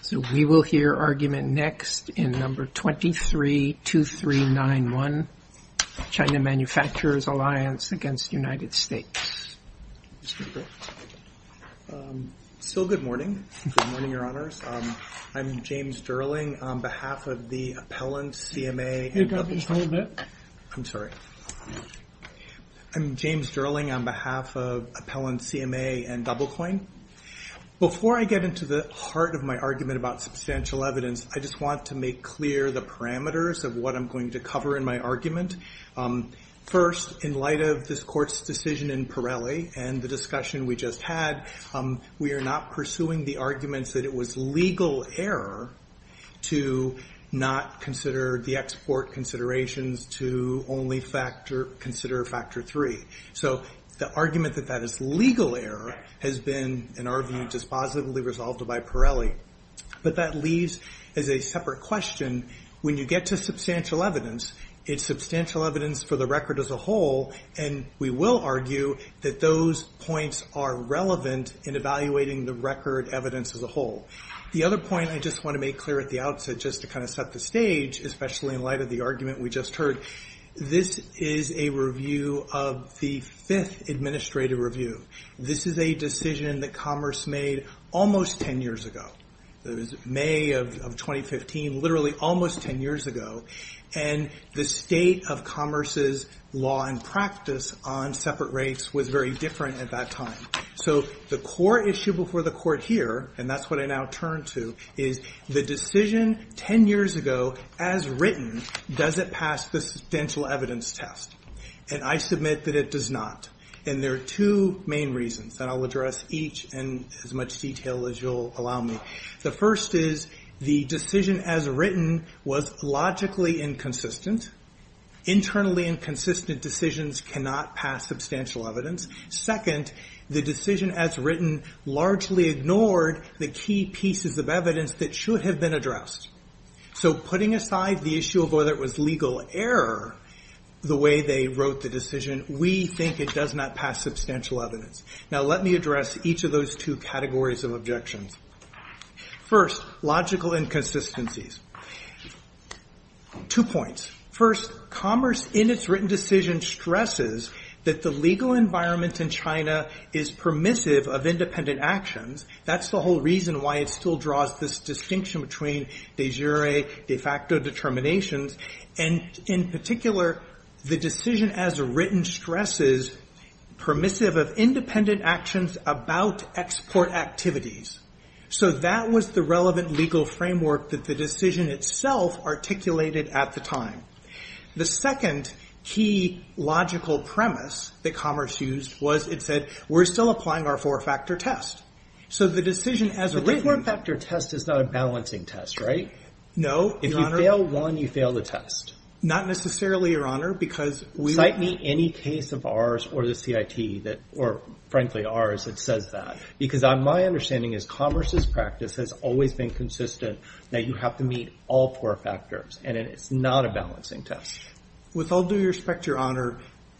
So we will hear argument next in number 232391 China Manufacturers Alliance against United States. So good morning. Good morning, Your Honors. I'm James Durling on behalf of the Appellant CMA. I'm sorry. I'm James Durling on behalf of Appellant CMA and Doublecoin. Before I get into the heart of my argument about substantial evidence, I just want to make clear the parameters of what I'm going to cover in my argument. First, in light of this court's decision in Pirelli and the discussion we just had, we are not pursuing the arguments that it was legal error to not consider the export considerations to only factor consider factor three. So the argument that that legal error has been, in our view, just positively resolved by Pirelli. But that leaves as a separate question. When you get to substantial evidence, it's substantial evidence for the record as a whole. And we will argue that those points are relevant in evaluating the record evidence as a whole. The other point I just want to make clear at the outset, just to kind of set the stage, especially in light of the argument we just heard, this is a review of the Fifth Administrative Review. This is a decision that Commerce made almost 10 years ago. It was May of 2015, literally almost 10 years ago. And the state of Commerce's law and practice on separate rates was very different at that time. So the core issue before the court here, and that's what I now turn to, is the decision 10 years ago, as written, does it pass the substantial evidence test? And I submit that it does not. And there are two main reasons, and I'll address each in as much detail as you'll allow me. The first is the decision as written was logically inconsistent. Internally inconsistent decisions cannot pass substantial evidence. Second, the decision as written largely ignored the key pieces of evidence that should have been addressed. So putting aside the issue of whether it was legal error the way they wrote the decision, we think it does not pass substantial evidence. Now let me address each of those two categories of objections. First, logical inconsistencies. Two points. First, Commerce in its written decision stresses that the legal environment in China is permissive of independent actions. That's the whole reason why it still draws this distinction between de jure, de facto determinations. And in particular, the decision as written stresses permissive of independent actions about export activities. So that was the relevant legal framework that the decision itself articulated at the time. The second key logical premise that Commerce used was it said, we're still applying our four-factor test. So the decision as written- The four-factor test is not a balancing test, right? No, Your Honor. If you fail one, you fail the test. Not necessarily, Your Honor, because we- Cite me any case of ours or the CIT that, or frankly, ours that says that. Because my understanding is Commerce's practice has always been consistent that you have to meet all four factors. And it's not a balancing test. With all due respect, Your Honor,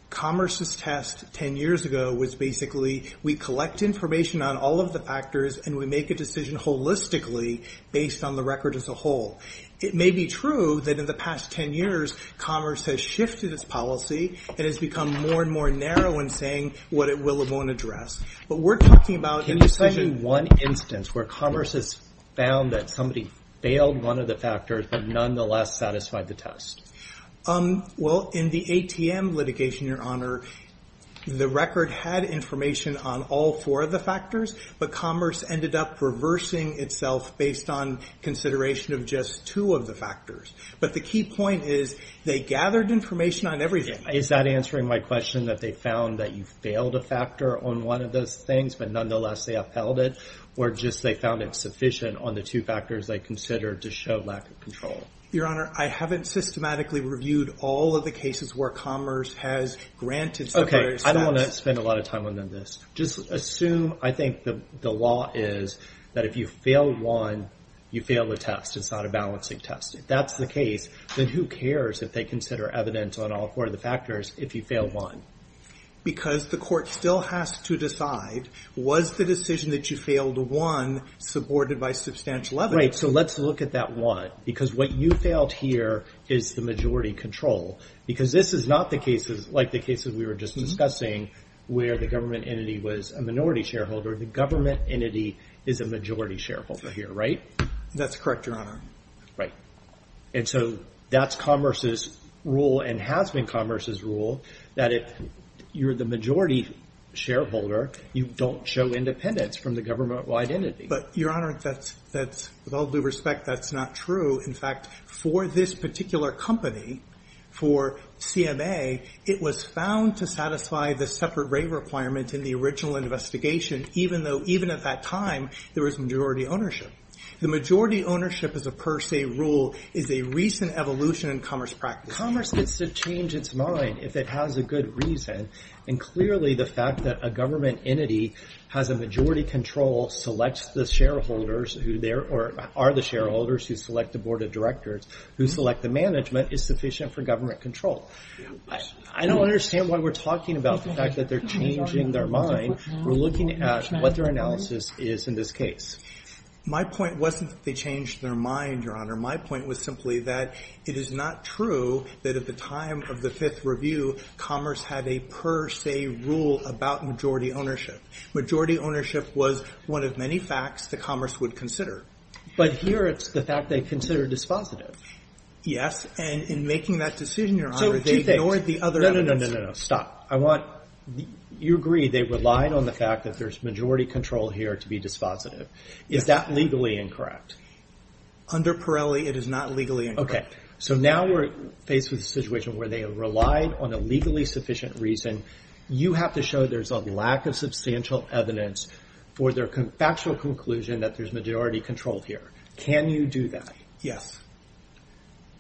Commerce's test 10 years ago was basically, we collect information on all of the factors and we make a decision holistically based on the record as a whole. It may be true that in the past 10 years, Commerce has shifted its policy and has become more and more narrow in saying what it will and won't address. But we're talking about- Can you cite me one instance where Commerce has found that somebody failed one of the but nonetheless satisfied the test? Well, in the ATM litigation, Your Honor, the record had information on all four of the factors, but Commerce ended up reversing itself based on consideration of just two of the factors. But the key point is they gathered information on everything. Is that answering my question that they found that you failed a factor on one of those things, but nonetheless they upheld it? Or just they found it sufficient on the two factors they considered to show lack of control? Your Honor, I haven't systematically reviewed all of the cases where Commerce has granted- Okay. I don't want to spend a lot of time on this. Just assume, I think the law is that if you fail one, you fail the test. It's not a balancing test. If that's the case, then who cares if they consider evidence on all four of the factors if you fail one? Because the court still has to decide, was the decision that you failed one supported by substantial evidence? So let's look at that one. Because what you failed here is the majority control. Because this is not like the cases we were just discussing where the government entity was a minority shareholder. The government entity is a majority shareholder here, right? That's correct, Your Honor. Right. And so that's Commerce's rule and has been Commerce's rule that if you're the majority shareholder, you don't show independence from the government wide entity. But Your Honor, with all due respect, that's not true. In fact, for this particular company, for CMA, it was found to satisfy the separate rate requirement in the original investigation, even though even at that time, there was majority ownership. The majority ownership as a per se rule is a recent evolution in Commerce practice. Commerce gets to change its mind if it has a good reason. And clearly, the fact that a government entity has a majority control, selects the shareholders who are the shareholders, who select the board of directors, who select the management, is sufficient for government control. I don't understand why we're talking about the fact that they're changing their mind. We're looking at what their analysis is in this case. My point wasn't that they changed their mind, Your Honor. My point was simply that it is not true that at the time of the Fifth Review, Commerce had a per se rule about majority ownership. Majority ownership was one of many facts that Commerce would consider. But here, it's the fact they consider dispositive. Yes. And in making that decision, Your Honor, they ignored the other evidence. No, no, no, no, no, no. Stop. I want... You agree they relied on the fact that there's majority control here to be dispositive. Is that legally incorrect? Under Pirelli, it is not legally incorrect. Okay. So now we're faced with a situation where they have relied on a legally sufficient reason. You have to show there's a lack of substantial evidence for their factual conclusion that there's majority control here. Can you do that? Yes.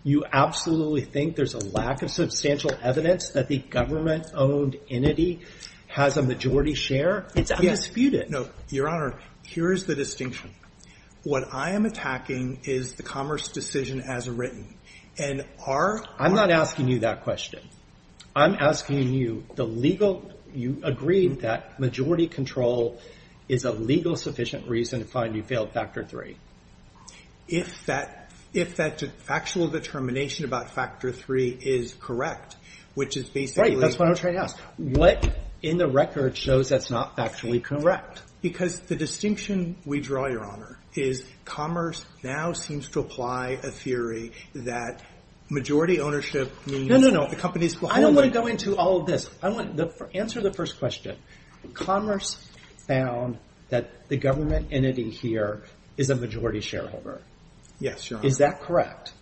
You absolutely think there's a lack of substantial evidence that the government-owned entity has a majority share? It's undisputed. No. Your Honor, here's the distinction. What I am attacking is the Commerce decision as written. And our... I'm not asking you that question. I'm asking you the legal... You agree that majority control is a legal sufficient reason to find you failed Factor 3. If that factual determination about Factor 3 is correct, which is basically... Right. That's what I'm trying to ask. What in the record shows that's not factually correct? Because the distinction we draw, Your Honor, is Commerce now seems to apply a theory that majority ownership means the company's... No, no, no. I don't want to go into all of this. I want to answer the first question. Commerce found that the government entity here is a majority shareholder. Yes, Your Honor. Is that correct?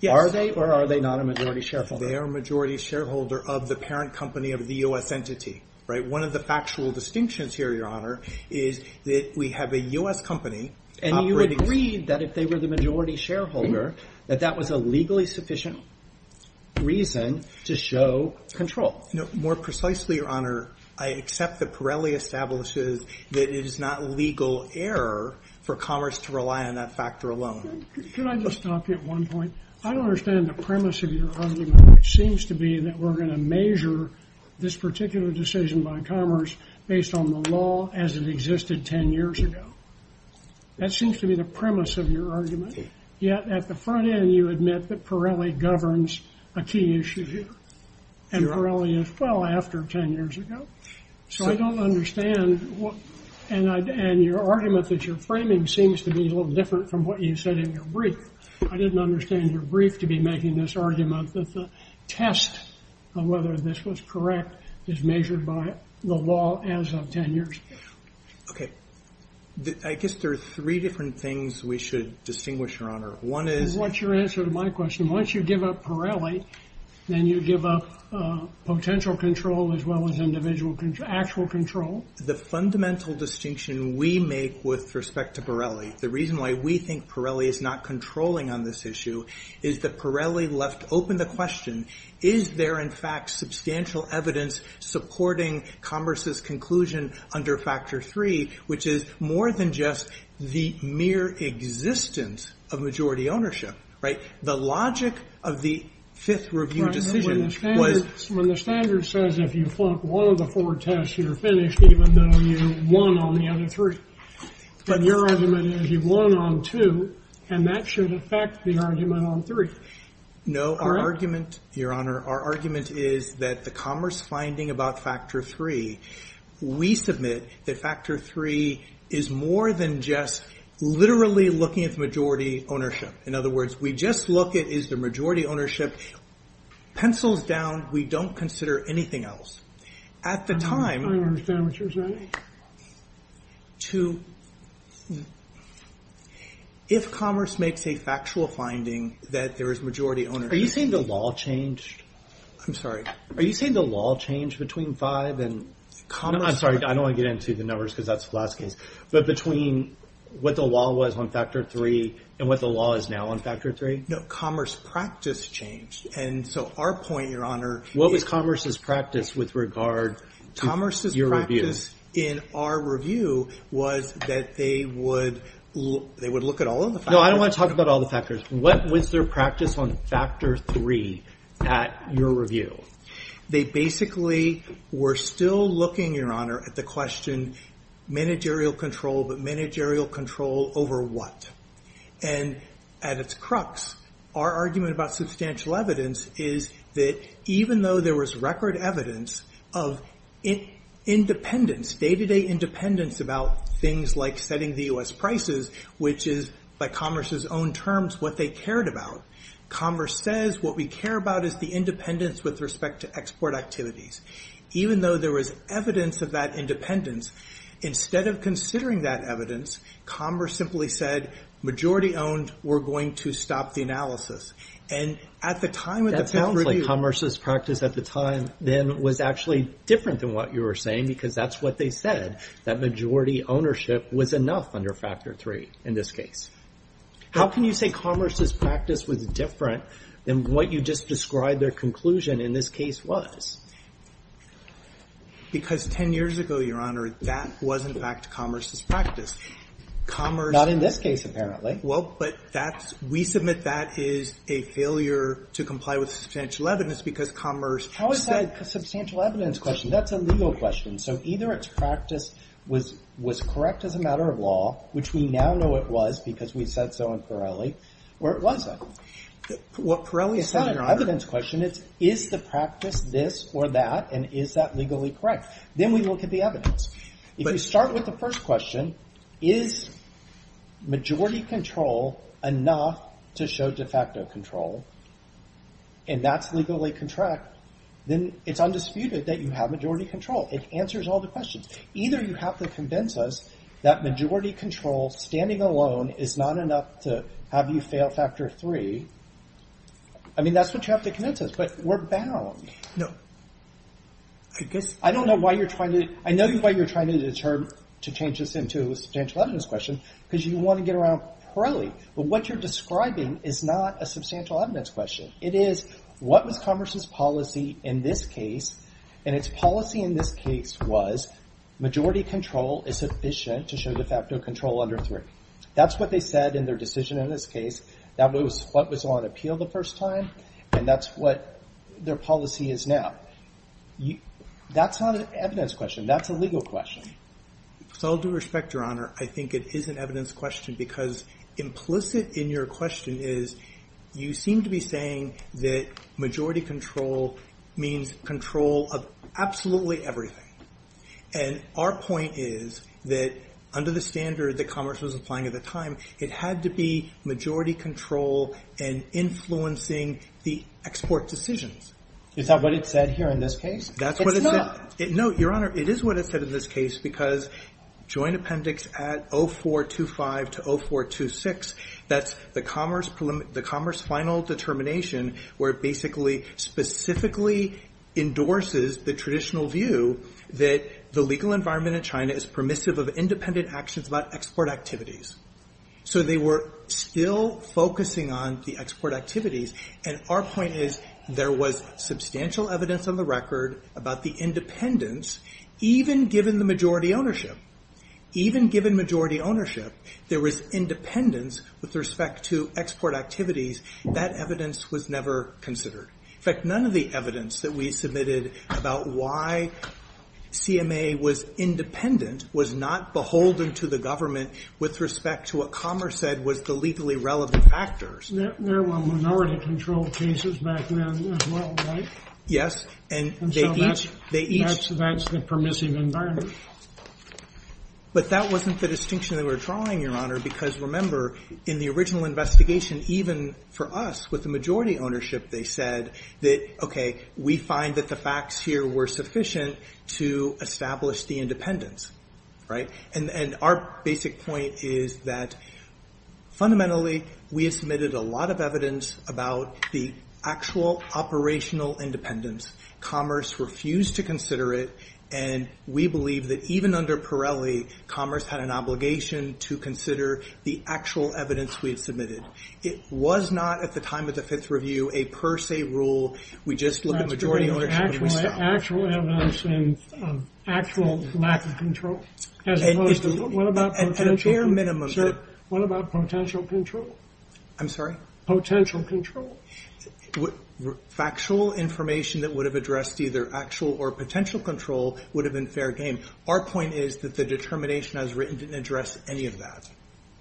Yes. Are they or are they not a majority shareholder? They are a majority shareholder of the parent company of the U.S. entity. One of the factual distinctions here, Your Honor, is that we have a U.S. company operating... And you agreed that if they were the majority shareholder, that that was a legally sufficient reason to show control. More precisely, Your Honor, I accept that Pirelli establishes that it is not legal error for Commerce to rely on that factor alone. Can I just stop you at one point? I don't understand the premise of your argument, which seems to be that we're going to measure this particular decision by Commerce based on the law as it existed 10 years ago. That seems to be the premise of your argument. Yet at the front end, you admit that Pirelli governs a key issue here. And Pirelli as well after 10 years ago. So I don't understand... And your argument that you're framing seems to be a little different from what you said in your brief. I didn't understand your brief to be making this argument that the test of whether this was correct is measured by the law as of 10 years ago. Okay. I guess there are three different things we should distinguish, Your Honor. One is... What's your answer to my question? Once you give up Pirelli, then you give up potential control as well as individual actual control? The fundamental distinction we make with respect to Pirelli, the reason why we think Pirelli is not controlling on this issue is that Pirelli left open the question, is there in fact substantial evidence supporting Commerce's conclusion under Factor 3, which is more than just the mere existence of majority ownership, right? The logic of the Fifth Review decision was... When the standard says if you flunk one of the four tests, you're finished even though you won on the other three. But your argument is you've won on two, and that should affect the argument on three. No, our argument, Your Honor, our argument is that the Commerce finding about Factor 3, we submit that Factor 3 is more than just literally looking at the majority ownership. In other words, we just look at is the majority ownership. Pencils down, we don't consider anything else. At the time... I understand what you're saying. To... If Commerce makes a factual finding that there is majority ownership... Are you saying the law changed? I'm sorry. Are you saying the law changed between 5 and... Commerce... I'm sorry, I don't want to get into the numbers because that's the last case. But between what the law was on Factor 3 and what the law is now on Factor 3? No, Commerce's practice changed. And so our point, Your Honor... What was Commerce's practice with regard to your review? Commerce's practice in our review was that they would look at all of the factors... No, I don't want to talk about all the factors. What was their practice on Factor 3 at your review? They basically were still looking, Your Honor, at the question managerial control, but managerial control over what? And at its crux, our argument about substantial evidence is that even though there was record evidence of independence, day-to-day independence about things like setting the U.S. prices, which is, by Commerce's own terms, what they cared about, Commerce says, what we care about is the independence with respect to export activities. Even though there was evidence of that independence, instead of considering that evidence, Commerce simply said, majority owned, we're going to stop the analysis. And at the time... That sounds like Commerce's practice at the time then was actually different than what you were saying because that's what they said, that majority ownership was enough under Factor 3 in this case. How can you say Commerce's practice was different than what you just described their conclusion in this case was? Because 10 years ago, Your Honor, that was in fact Commerce's practice. Commerce... Not in this case, apparently. Well, but that's, we submit that is a failure to comply with substantial evidence because Commerce... How is that a substantial evidence question? That's a legal question. So either its practice was correct as a matter of law, which we now know it was because we've said so in Pirelli, or it wasn't. What Pirelli has said... It's not an evidence question, it's, is the practice this or that, and is that legally correct? Then we look at the evidence. If you start with the first question, is majority control enough to show de facto control, and that's legally contract, then it's undisputed that you have majority control. It answers all the questions. Either you have to convince us that majority control, standing alone, is not enough to have you fail Factor 3. I mean, that's what you have to convince us, but we're bound. No, I guess... I don't know why you're trying to... I know why you're trying to change this into a substantial evidence question because you want to get around Pirelli, but what you're describing is not a substantial evidence question. It is, what was Congress's policy in this case, and its policy in this case was, majority control is sufficient to show de facto control under 3. That's what they said in their decision in this case. That was what was on appeal the first time, and that's what their policy is now. That's not an evidence question, that's a legal question. With all due respect, Your Honor, I think it is an evidence question because implicit in your question is, you seem to be saying that majority control means control of absolutely everything, and our point is that under the standard that Congress was applying at the time, it had to be majority control and influencing the export decisions. Is that what it said here in this case? It's not. No, Your Honor, it is what it said in this case because joint appendix at 0425 to 0426, that's the commerce final determination where it basically specifically endorses the traditional view that the legal environment in China is permissive of independent actions about export activities. So they were still focusing on the export activities, and our point is, there was substantial evidence on the record about the independence, even given the majority ownership. Even given majority ownership, there was independence with respect to export activities. That evidence was never considered. In fact, none of the evidence that we submitted about why CMA was independent was not beholden to the government with respect to what Commerce said was the legally relevant factors. There were minority-controlled cases back then as well, right? Yes, and they each... And so that's the permissive environment. But that wasn't the distinction that we were drawing, Your Honor, because remember, in the original investigation, even for us, with the majority ownership, they said that, okay, we find that the facts here were sufficient to establish the independence, right? And our basic point is that, fundamentally, we have submitted a lot of evidence about the actual operational independence. Commerce refused to consider it, and we believe that even under Pirelli, Commerce had an obligation to consider the actual evidence we had submitted. It was not, at the time of the Fifth Review, a per se rule. We just looked at majority ownership and we stopped. Actual evidence and actual lack of control, as opposed to... At a bare minimum... What about potential control? I'm sorry? Potential control. Factual information that would have addressed either actual or potential control would have been fair game. Our point is that the determination as written didn't address any of that.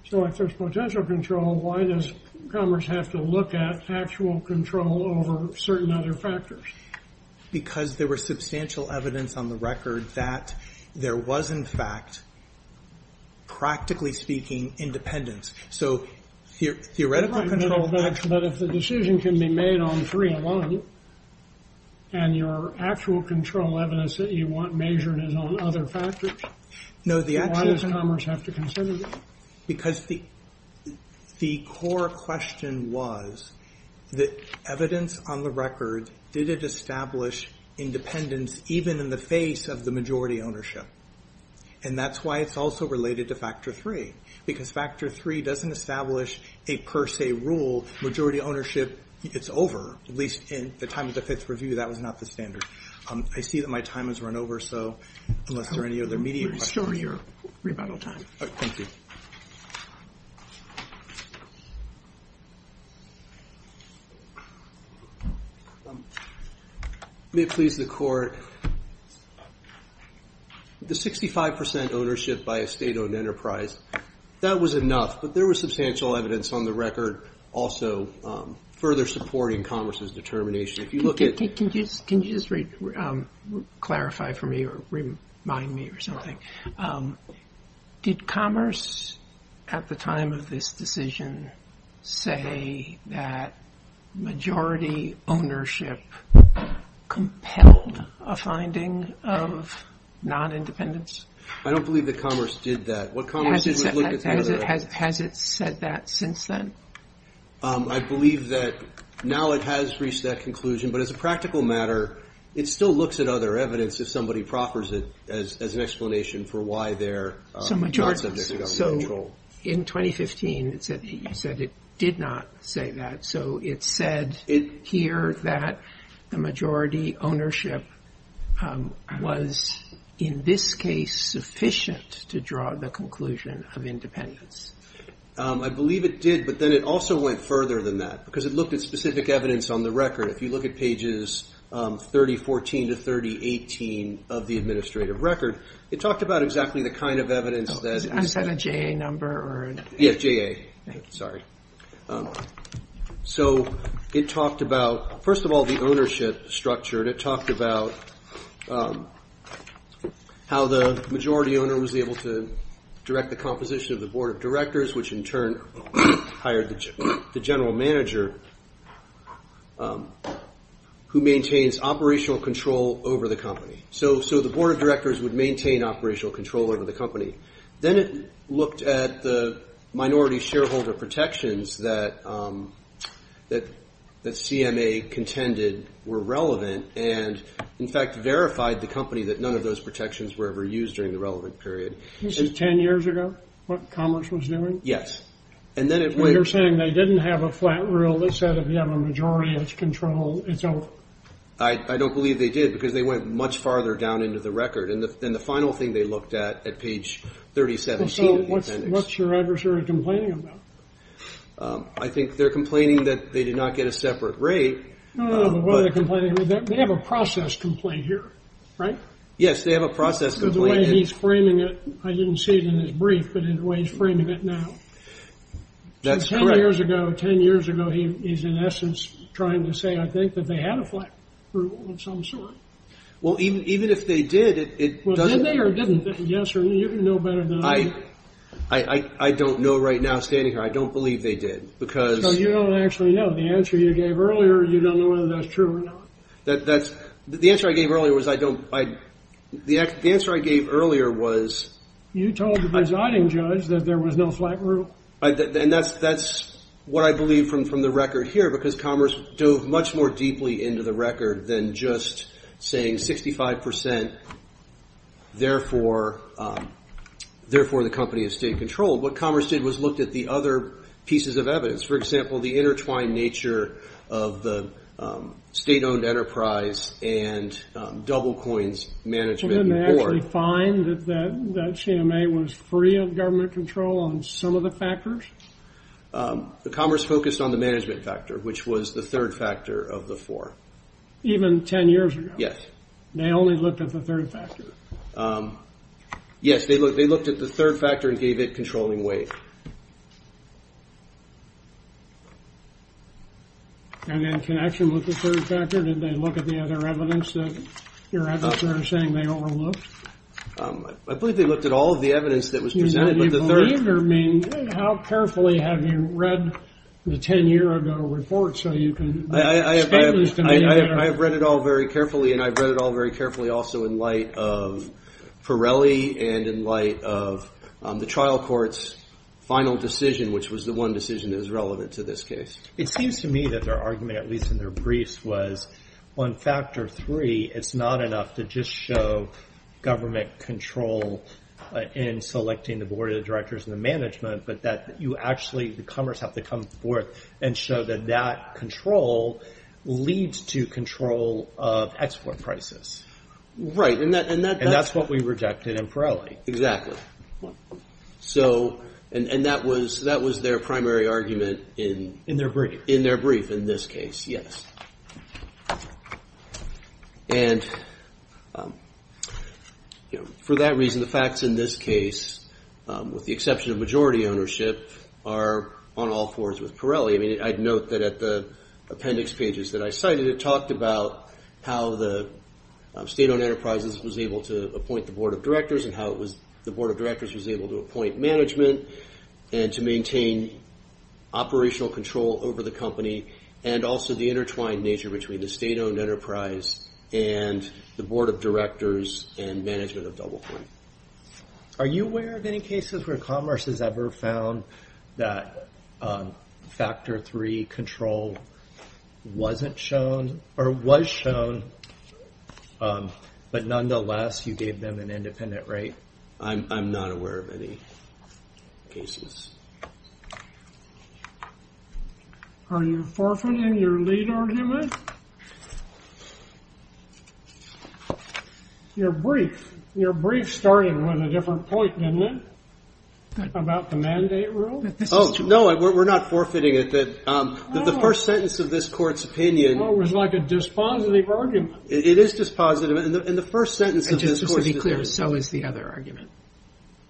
So if there's potential control, why does Commerce have to look at actual control over certain other factors? Because there was substantial evidence on the record that there was, in fact, practically speaking, independence. So theoretical control... But if the decision can be made on three alone, and your actual control evidence that you want measured is on other factors, why does Commerce have to consider that? Because the core question was that evidence on the record, did it establish independence, even in the face of the majority ownership? And that's why it's also related to Factor 3. Because Factor 3 doesn't establish a per se rule. Majority ownership, it's over. At least in the time of the Fifth Review, that was not the standard. I see that my time has run over, so unless there are any other media... Restore your rebuttal time. Thank you. May it please the Court. The 65% ownership by a state-owned enterprise, that was enough, but there was substantial evidence on the record also further supporting Commerce's determination. If you look at... Can you just clarify for me or remind me or something? Did Commerce, at the time of this decision, say that majority ownership compelled a finding of non-independence? I don't believe that Commerce did that. What Commerce did was look at the other... Has it said that since then? I believe that now it has reached that conclusion, but as a practical matter, it still looks at other evidence if somebody proffers it as an explanation for why they're... So in 2015, you said it did not say that, so it said here that the majority ownership was in this case sufficient to draw the conclusion of independence. I believe it did, but then it also went further than that because it looked at specific evidence on the record. If you look at pages 3014 to 3018 of the administrative record, it talked about exactly the kind of evidence that... Is that a JA number or... Yes, JA. Sorry. So it talked about, first of all, the ownership structure, and it talked about how the majority owner was able to direct the composition of the Board of Directors, which in turn hired the general manager who maintains operational control over the company. So the Board of Directors would maintain operational control over the company. Then it looked at the minority shareholder protections that CMA contended were relevant and, in fact, verified the company that none of those protections were ever used during the relevant period. Ten years ago, what Commerce was doing? Yes, and then it went... You're saying they didn't have a flat rule that said if you have a majority, it's control, it's over? I don't believe they did because they went much farther down into the record, and the final thing they looked at, at page 3017 of the appendix... So what's your adversary complaining about? I think they're complaining that they did not get a separate rate. No, no, no, the way they're complaining, they have a process complaint here, right? Yes, they have a process complaint. He's framing it. I didn't see it in his brief, but in the way he's framing it now. That's correct. Ten years ago, he's, in essence, trying to say, I think, that they had a flat rule of some sort. Well, even if they did, it doesn't... Did they or didn't they? Yes or no? You know better than I do. I don't know right now, standing here. I don't believe they did because... Because you don't actually know. The answer you gave earlier, you don't know whether that's true or not. The answer I gave earlier was I don't... The answer I gave earlier was... You told the presiding judge that there was no flat rule. And that's what I believe from the record here, because Commerce dove much more deeply into the record than just saying 65%, therefore, the company is state-controlled. What Commerce did was looked at the other pieces of evidence. For example, the intertwined nature of the state-owned enterprise and DoubleCoin's management board. Didn't they actually find that CMA was free of government control on some of the factors? The Commerce focused on the management factor, which was the third factor of the four. Even 10 years ago? Yes. They only looked at the third factor? Yes, they looked at the third factor and gave it controlling weight. And in connection with the third factor, did they look at the other evidence that your advisor is saying they overlooked? I believe they looked at all of the evidence that was presented. Do you believe or mean... How carefully have you read the 10-year-ago report so you can... I have read it all very carefully. And I've read it all very carefully also in light of Pirelli and in light of the trial court's final decision, which was the one decision that was relevant to this case. It seems to me that their argument, at least in their briefs, was on factor three, it's not enough to just show government control in selecting the board of directors and the management, but that you actually, the Commerce have to come forth and show that that control leads to control of export prices. Right. And that's what we rejected in Pirelli. And that was their primary argument in... In their brief. In their brief, in this case, yes. And for that reason, the facts in this case, with the exception of majority ownership, are on all fours with Pirelli. I mean, I'd note that at the appendix pages that I cited, it talked about how the state-owned enterprises was able to appoint the board of directors and how the board of directors was able to appoint management and to maintain operational control over the company and also the intertwined nature between the state-owned enterprise and the board of directors and management of DoublePoint. Are you aware of any cases where Commerce has ever found that factor three control wasn't shown or was shown, but nonetheless, you gave them an independent rate? I'm not aware of any cases. Are you forfeiting your lead argument? Your brief, your brief started with a different point, didn't it? About the mandate rule? Oh, no, we're not forfeiting it. The first sentence of this court's opinion... Well, it was like a dispositive argument. It is dispositive. And the first sentence of this court's... And just to be clear, so is the other argument.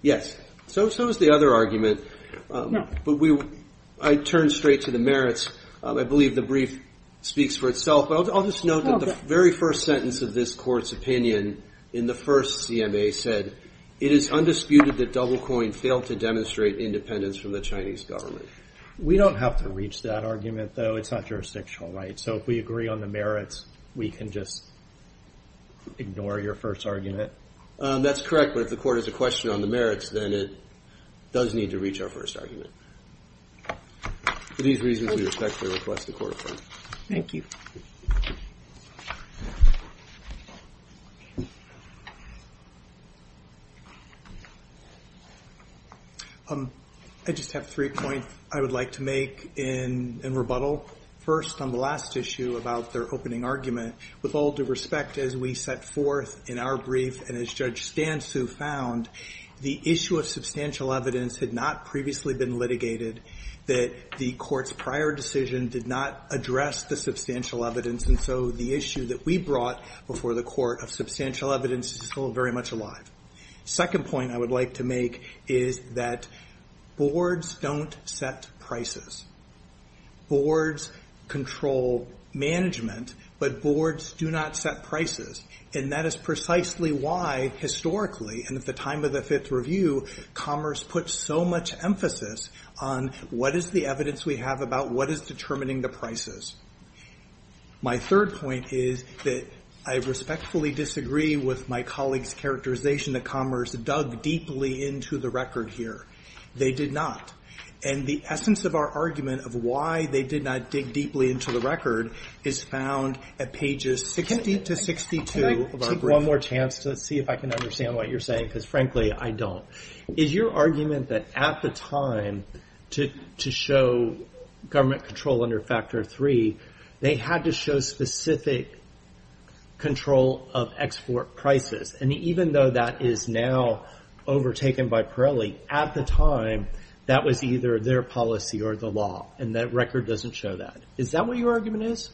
Yes, so is the other argument. But I turn straight to the merits. I believe the brief speaks for itself. But I'll just note that the very first sentence of this court's opinion in the first CMA said, it is undisputed that DoubleCoin failed to demonstrate independence from the Chinese government. We don't have to reach that argument, though. It's not jurisdictional, right? So if we agree on the merits, we can just ignore your first argument? That's correct. But if the court has a question on the merits, then it does need to reach our first argument. For these reasons, we respectfully request the court affirm. Thank you. I just have three points I would like to make in rebuttal. First, on the last issue about their opening argument, with all due respect, as we set forth in our brief, and as Judge Stansu found, the issue of substantial evidence had not previously been litigated, that the court's prior decision did not address the substantial evidence. And so the issue that we brought before the court of substantial evidence is still very much alive. Second point I would like to make is that boards don't set prices. Boards control management, but boards do not set prices. And that is precisely why, historically, and at the time of the Fifth Review, commerce put so much emphasis on what is the evidence we have about what is determining the prices. My third point is that I respectfully disagree with my colleague's characterization that commerce dug deeply into the record here. They did not. And the essence of our argument of why they did not dig deeply into the record is found at pages 60 to 62 of our brief. Can I take one more chance to see if I can understand what you're saying? Because frankly, I don't. Is your argument that at the time to show government control under Factor 3, they had to show specific control of export prices? And even though that is now overtaken by Pirelli, at the time, that was either their policy or the law. And that record doesn't show that. Is that what your argument is?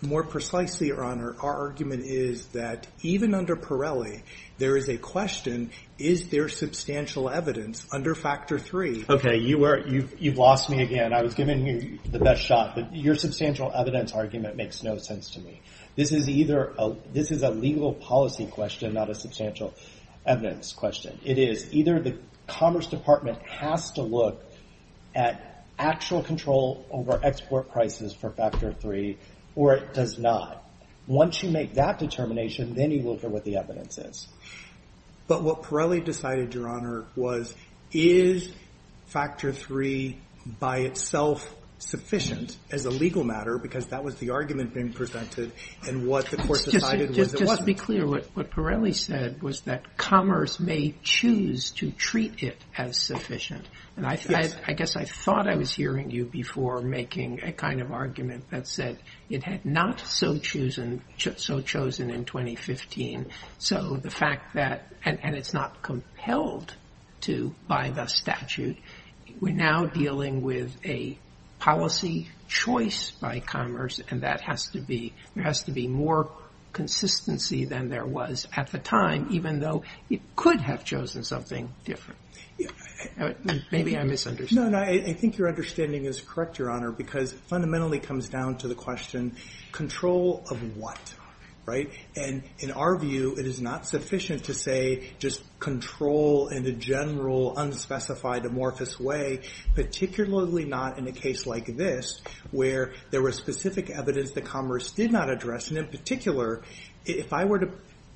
More precisely, Your Honor, our argument is that even under Pirelli, there is a question, is there substantial evidence under Factor 3? OK, you've lost me again. I was giving you the best shot. Your substantial evidence argument makes no sense to me. This is a legal policy question, not a substantial evidence question. It is either the Commerce Department has to look at actual control over export prices for Factor 3 or it does not. Once you make that determination, then you look at what the evidence is. But what Pirelli decided, Your Honor, was, is Factor 3 by itself sufficient as a legal matter? Because that was the argument being presented. And what the court decided was it wasn't. Just to be clear, what Pirelli said was that commerce may choose to treat it as sufficient. And I guess I thought I was hearing you before making a kind of argument that said it had not so chosen in 2015. So the fact that, and it's not compelled to by the statute, we're now dealing with a policy choice by commerce. And that has to be, there has to be more consistency than there was at the time, even though it could have chosen something different. Maybe I misunderstood. No, no, I think your understanding is correct, Your Honor, because it fundamentally comes down to the question, control of what, right? And in our view, it is not sufficient to say just control in a general, unspecified, amorphous way, particularly not in a case like this, where there was specific evidence that commerce did not address. And in particular, if I were to,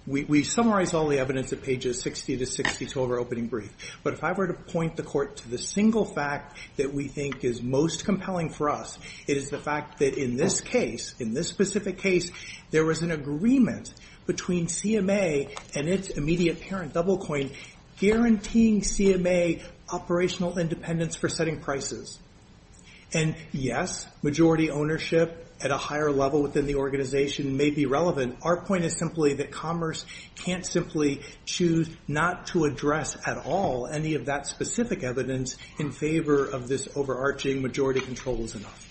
we summarized all the evidence at pages 60 to 60 to our opening brief. But if I were to point the court to the single fact that we think is most compelling for us, it is the fact that in this case, in this specific case, there was an agreement between CMA and its immediate parent, Doublecoin, guaranteeing CMA operational independence for setting prices. And yes, majority ownership at a higher level within the organization may be relevant. Our point is simply that commerce can't simply choose not to address at all any of that specific evidence in favor of this overarching majority control was enough.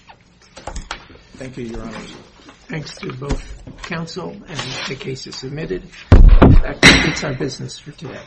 Thank you, Your Honor. Thanks to both counsel and the cases submitted. In fact, it's our business for today.